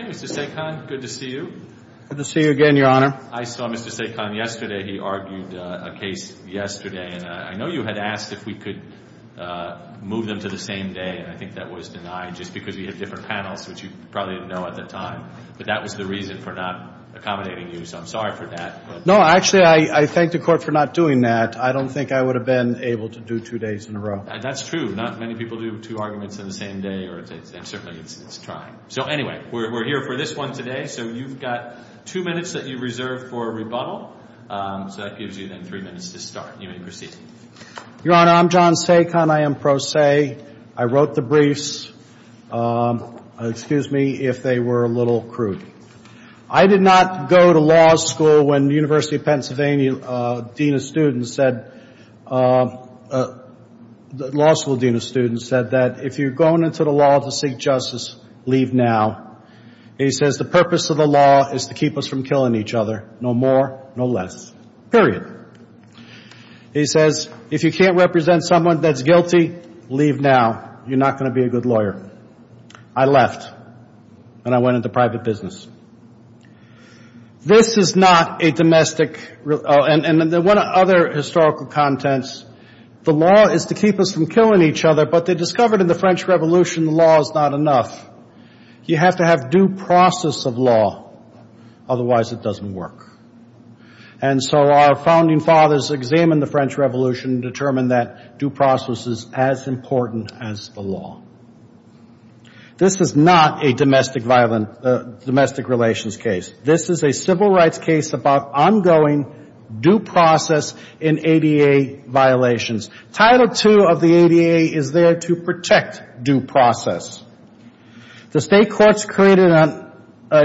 Mr. Sekhon, good to see you. Good to see you again, Your Honor. I saw Mr. Sekhon yesterday. He argued a case yesterday, and I know you had asked if we could move them to the same day, and I think that was denied just because we had different panels, which you probably didn't know at the time. But that was the reason for not accommodating you, so I'm sorry for that. No. Actually, I thank the Court for not doing that. I don't think I would have been able to do two days in a row. That's true. Not many people do two arguments on the same day, and certainly it's trying. So anyway, we're here for this one today, so you've got two minutes that you reserve for rebuttal. So that gives you then three minutes to start, and you may proceed. Your Honor, I'm John Sekhon. I am pro se. Yesterday, I wrote the briefs, excuse me, if they were a little crude. I did not go to law school when the University of Pennsylvania dean of students said, law school dean of students said that if you're going into the law to seek justice, leave now. He says the purpose of the law is to keep us from killing each other, no more, no less, period. He says if you can't represent someone that's guilty, leave now. You're not going to be a good lawyer. I left, and I went into private business. This is not a domestic, and one of the other historical contents, the law is to keep us from killing each other, but they discovered in the French Revolution the law is not enough. You have to have due process of law, otherwise it doesn't work. And so our founding fathers examined the French Revolution, determined that due process is as important as the law. This is not a domestic violence, domestic relations case. This is a civil rights case about ongoing due process in ADA violations. Title II of the ADA is there to protect due process. The state courts created a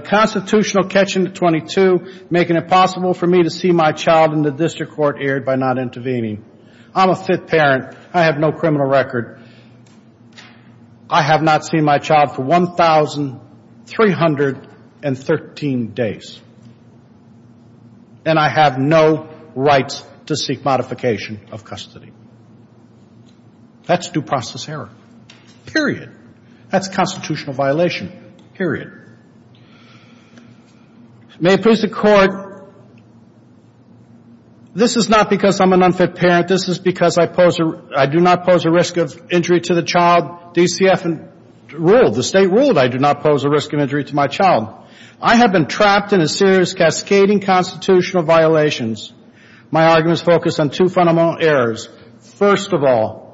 constitutional catch in 22, making it possible for me to see my child in the district court aired by not intervening. I'm a fifth parent. I have no criminal record. I have not seen my child for 1,313 days, and I have no rights to seek modification of custody. That's due process error, period. That's constitutional violation, period. May it please the court, this is not because I'm an unfit parent. This is because I do not pose a risk of injury to the child. DCF ruled, the state ruled I do not pose a risk of injury to my child. I have been trapped in a series of cascading constitutional violations. My arguments focus on two fundamental errors. First of all,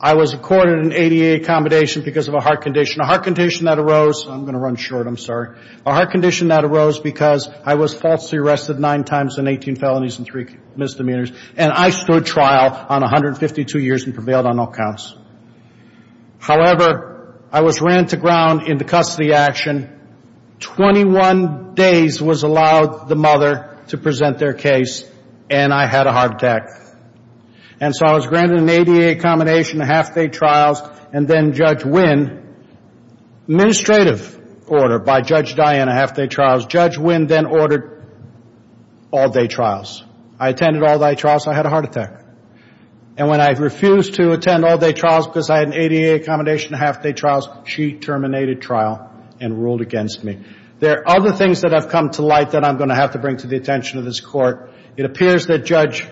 I was accorded an ADA accommodation because of a heart condition. A heart condition that arose, I'm going to run short, I'm sorry. A heart condition that arose because I was falsely arrested nine times in 18 felonies and three misdemeanors, and I stood trial on 152 years and prevailed on all counts. However, I was ran to ground in the custody action. Twenty-one days was allowed the mother to present their case, and I had a heart attack. And so I was granted an ADA accommodation and half-day trials, and then Judge Wynn, administrative order by Judge Dianne, half-day trials. Judge Wynn then ordered all-day trials. I attended all-day trials, so I had a heart attack. And when I refused to attend all-day trials because I had an ADA accommodation and half-day trials, she terminated trial and ruled against me. There are other things that have come to light that I'm going to have to bring to the attention of this Court. It appears that Judge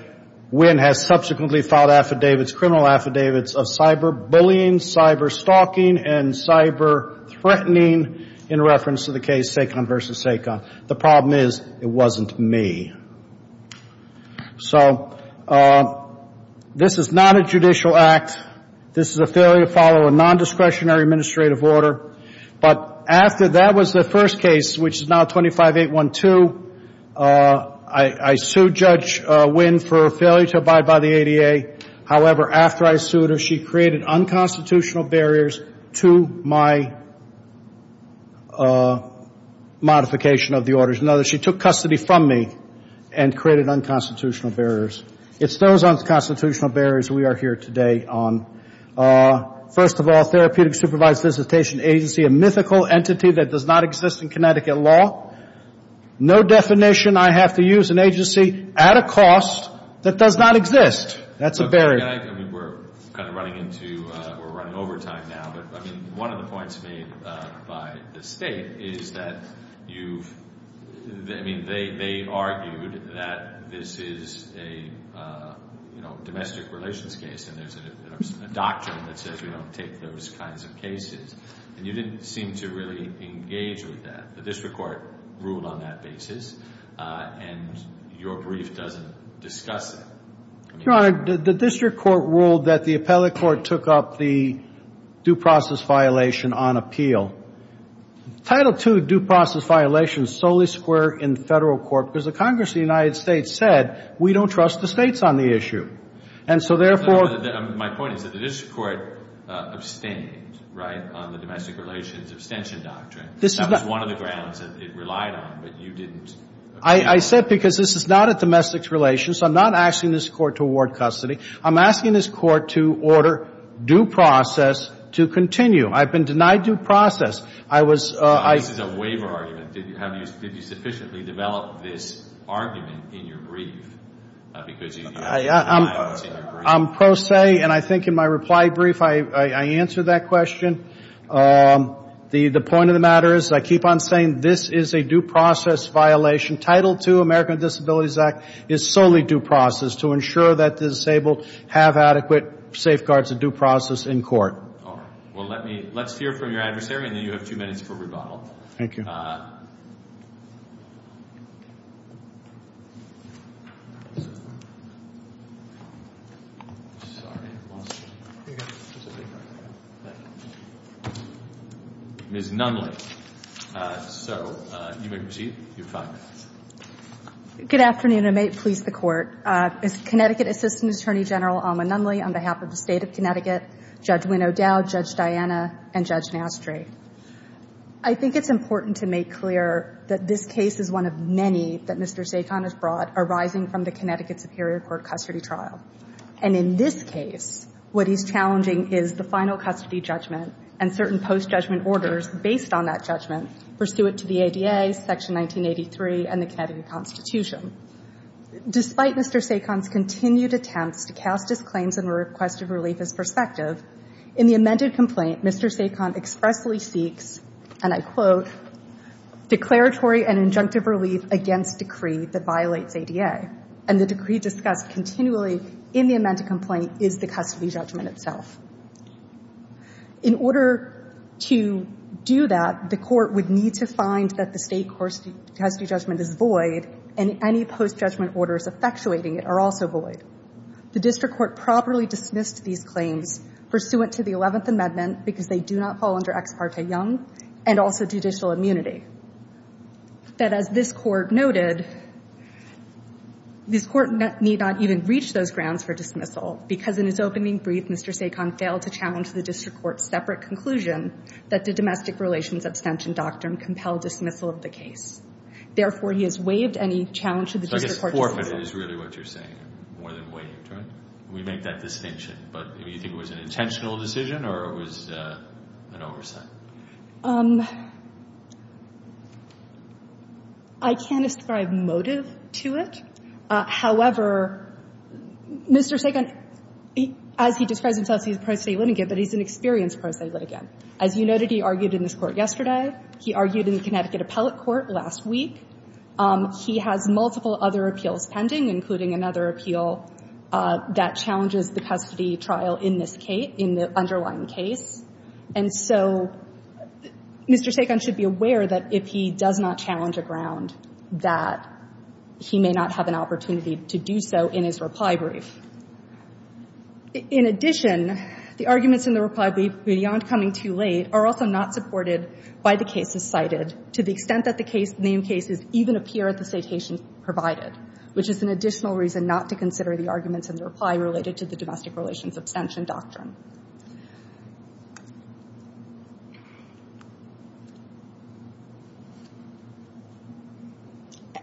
Wynn has subsequently filed affidavits, criminal affidavits, of cyberbullying, cyberstalking, and cyberthreatening in reference to the case Sacon v. Sacon. The problem is it wasn't me. So this is not a judicial act. This is a failure to follow a nondiscretionary administrative order. But after that was the first case, which is now 25-812, I sued Judge Wynn for a failure to abide by the ADA. However, after I sued her, she created unconstitutional barriers to my modification of the orders. In other words, she took custody from me and created unconstitutional barriers. It's those unconstitutional barriers we are here today on. First of all, therapeutic supervised visitation agency, a mythical entity that does not exist in Connecticut law. No definition. I have to use an agency at a cost that does not exist. That's a barrier. I mean, we're kind of running into, we're running over time now. But, I mean, one of the points made by the state is that you've, I mean, they argued that this is a, you know, domestic relations case. And there's a doctrine that says we don't take those kinds of cases. And you didn't seem to really engage with that. The district court ruled on that basis. And your brief doesn't discuss it. Your Honor, the district court ruled that the appellate court took up the due process violation on appeal. Title II due process violation is solely square in federal court because the Congress of the United States said we don't trust the states on the issue. And so, therefore. My point is that the district court abstained, right, on the domestic relations abstention doctrine. That was one of the grounds that it relied on, but you didn't. I said because this is not a domestic relations. I'm not asking this court to award custody. I'm asking this court to order due process to continue. I've been denied due process. I was. This is a waiver argument. Did you sufficiently develop this argument in your brief? I'm pro se, and I think in my reply brief I answered that question. The point of the matter is I keep on saying this is a due process violation. Title II, American Disabilities Act, is solely due process to ensure that the disabled have adequate safeguards of due process in court. All right. Well, let's hear from your adversary, and then you have two minutes for rebuttal. Thank you. Ms. Nunley. So, you may proceed. You have five minutes. Good afternoon, and may it please the Court. Ms. Connecticut Assistant Attorney General Alma Nunley, on behalf of the State of Connecticut, Judge Wynn O'Dowd, Judge Diana, and Judge Nastry. I think it's important to note that this is not a domestic relations case. I think it's important to make clear that this case is one of many that Mr. Sakon has brought arising from the Connecticut Superior Court custody trial. And in this case, what he's challenging is the final custody judgment and certain post-judgment orders based on that judgment, pursuant to the ADA, Section 1983, and the Connecticut Constitution. Despite Mr. Sakon's continued attempts to cast his claims and request of relief as prospective, in the amended complaint, Mr. Sakon expressly seeks, and I quote, declaratory and injunctive relief against decree that violates ADA. And the decree discussed continually in the amended complaint is the custody judgment itself. In order to do that, the Court would need to find that the State court's custody judgment is void, and any post-judgment orders effectuating it are also void. The District Court properly dismissed these claims pursuant to the 11th Amendment because they do not fall under Ex parte Young and also judicial immunity. But as this Court noted, this Court need not even reach those grounds for dismissal because in its opening brief, Mr. Sakon failed to challenge the District Court's separate conclusion that the domestic relations abstention doctrine compelled dismissal of the case. Therefore, he has waived any challenge to the District Court's judgment. So the forefront is really what you're saying, more than waived, right? We make that distinction. But do you think it was an intentional decision or it was an oversight? I can't ascribe motive to it. However, Mr. Sakon, as he describes himself, he's a pro-State litigant, but he's an experienced pro-State litigant. As you noted, he argued in this Court yesterday. He argued in the Connecticut Appellate Court last week. He has multiple other appeals pending, including another appeal that challenges the custody trial in this case, in the underlying case. And so Mr. Sakon should be aware that if he does not challenge a ground, that he may not have an opportunity to do so in his reply brief. In addition, the arguments in the reply brief, beyond coming too late, are also not supported by the cases cited, to the extent that the name cases even appear at the citations provided, which is an additional reason not to consider the arguments in the reply related to the domestic relations abstention doctrine.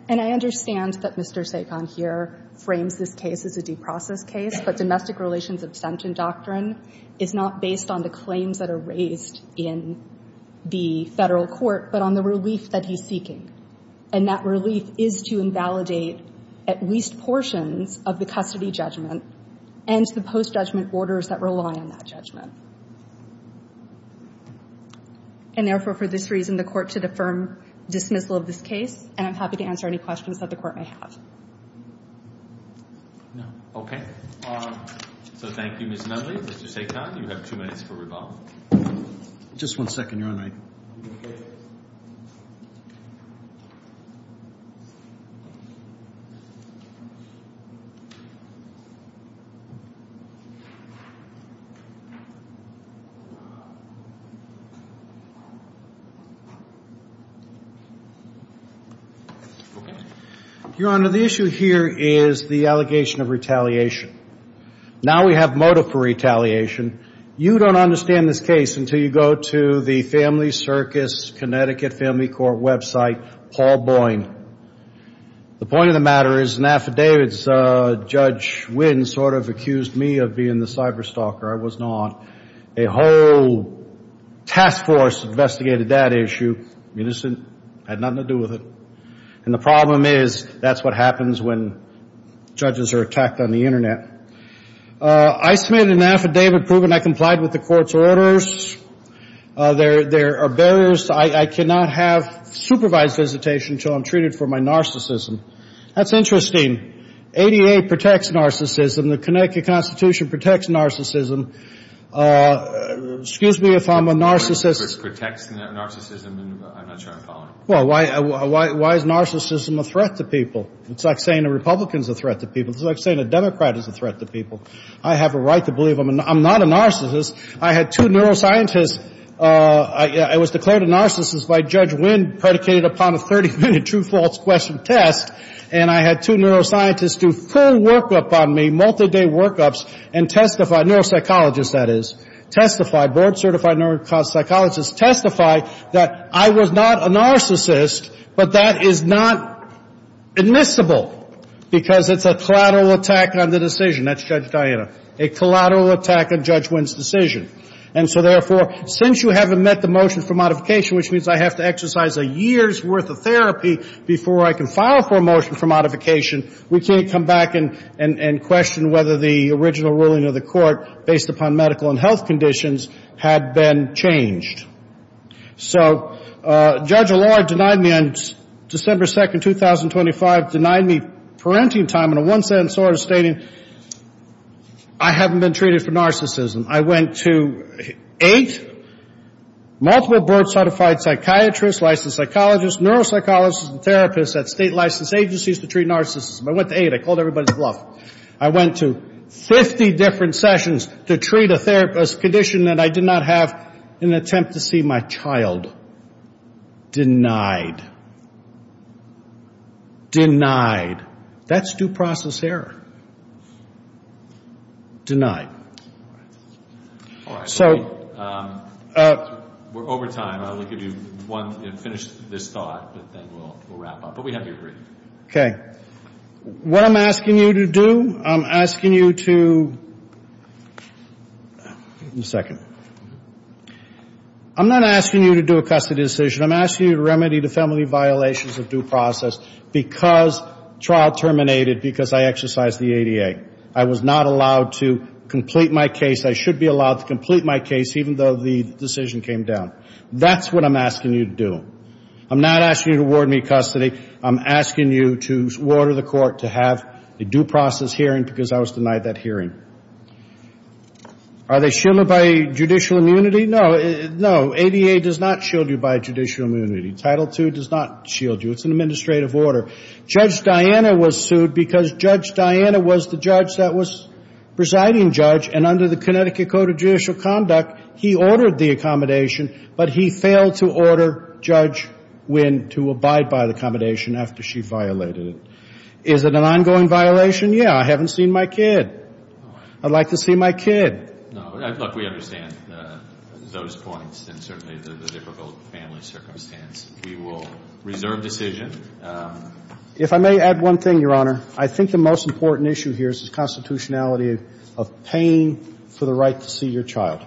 And I understand that Mr. Sakon here frames this case as a due process case, but domestic relations abstention doctrine is not based on the claims that are raised in the Federal court, but on the relief that he's seeking. And that relief is to invalidate at least portions of the custody judgment and the post-judgment orders that rely on that judgment. And therefore, for this reason, the Court should affirm dismissal of this case, and I'm happy to answer any questions that the Court may have. No? Okay. So thank you, Ms. Medley. Mr. Sakon, you have two minutes for rebuttal. Just one second, Your Honor. Okay. Your Honor, the issue here is the allegation of retaliation. Now we have motive for retaliation. You don't understand this case until you go to the Family Circus, Connecticut Family Court website, Paul Boyne. The point of the matter is an affidavit's Judge Wynn sort of accused me of being the cyberstalker. I was not. A whole task force investigated that issue, innocent, had nothing to do with it. And the problem is that's what happens when judges are attacked on the Internet. I submitted an affidavit proving I complied with the Court's orders. There are barriers. I cannot have supervised visitation until I'm treated for my narcissism. That's interesting. ADA protects narcissism. The Connecticut Constitution protects narcissism. Excuse me if I'm a narcissist. Protects narcissism? I'm not sure I'm following. Well, why is narcissism a threat to people? It's like saying a Republican's a threat to people. It's like saying a Democrat is a threat to people. I have a right to believe I'm not a narcissist. I had two neuroscientists. I was declared a narcissist by Judge Wynn predicated upon a 30-minute true-false-question test, and I had two neuroscientists do full workup on me, multi-day workups, and testify, neuropsychologists, that is, testified, board-certified neuropsychologists testified that I was not a narcissist, but that is not admissible because it's a collateral attack on the decision. That's Judge Diana. A collateral attack on Judge Wynn's decision. And so, therefore, since you haven't met the motion for modification, which means I have to exercise a year's worth of therapy before I can file for a motion for modification, we can't come back and question whether the original ruling of the Court, based upon medical and health conditions, had been changed. So Judge Allure denied me on December 2, 2025, denied me parenting time in a one-sentence order stating, I haven't been treated for narcissism. I went to eight multiple board-certified psychiatrists, licensed psychologists, neuropsychologists, and therapists at state-licensed agencies to treat narcissism. I went to eight. I called everybody's bluff. I went to 50 different sessions to treat a therapist's condition that I did not have in an attempt to see my child. Denied. That's due process error. Denied. So we're over time. I'll give you one minute to finish this thought, but then we'll wrap up. But we have you agreed. Okay. What I'm asking you to do, I'm asking you to do a custody decision. I'm asking you to remedy the family violations of due process because trial terminated because I exercised the ADA. I was not allowed to complete my case. I should be allowed to complete my case, even though the decision came down. That's what I'm asking you to do. I'm not asking you to award me custody. I'm asking you to order the court to have a due process hearing because I was denied that hearing. Are they shielded by judicial immunity? No. No. ADA does not shield you by judicial immunity. Title II does not shield you. It's an administrative order. Judge Diana was sued because Judge Diana was the judge that was presiding judge, and under the Connecticut Code of Judicial Conduct, he ordered the accommodation, but he failed to order Judge Wynn to abide by the accommodation after she violated it. Is it an ongoing violation? Yeah. I haven't seen my kid. I'd like to see my kid. No. Look, we understand those points and certainly the difficult family circumstance. We will reserve decision. If I may add one thing, Your Honor, I think the most important issue here is the constitutionality of paying for the right to see your child.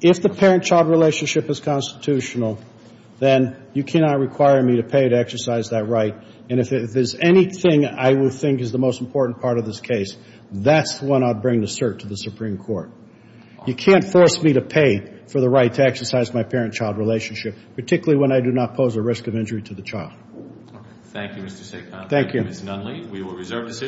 If the parent-child relationship is constitutional, then you cannot require me to pay to exercise that right, and if there's anything I would think is the most important part of this case, that's when I'd bring the cert to the Supreme Court. You can't force me to pay for the right to exercise my parent-child relationship, particularly when I do not pose a risk of injury to the child. Thank you, Mr. Seacosta. Thank you, Ms. Nunley.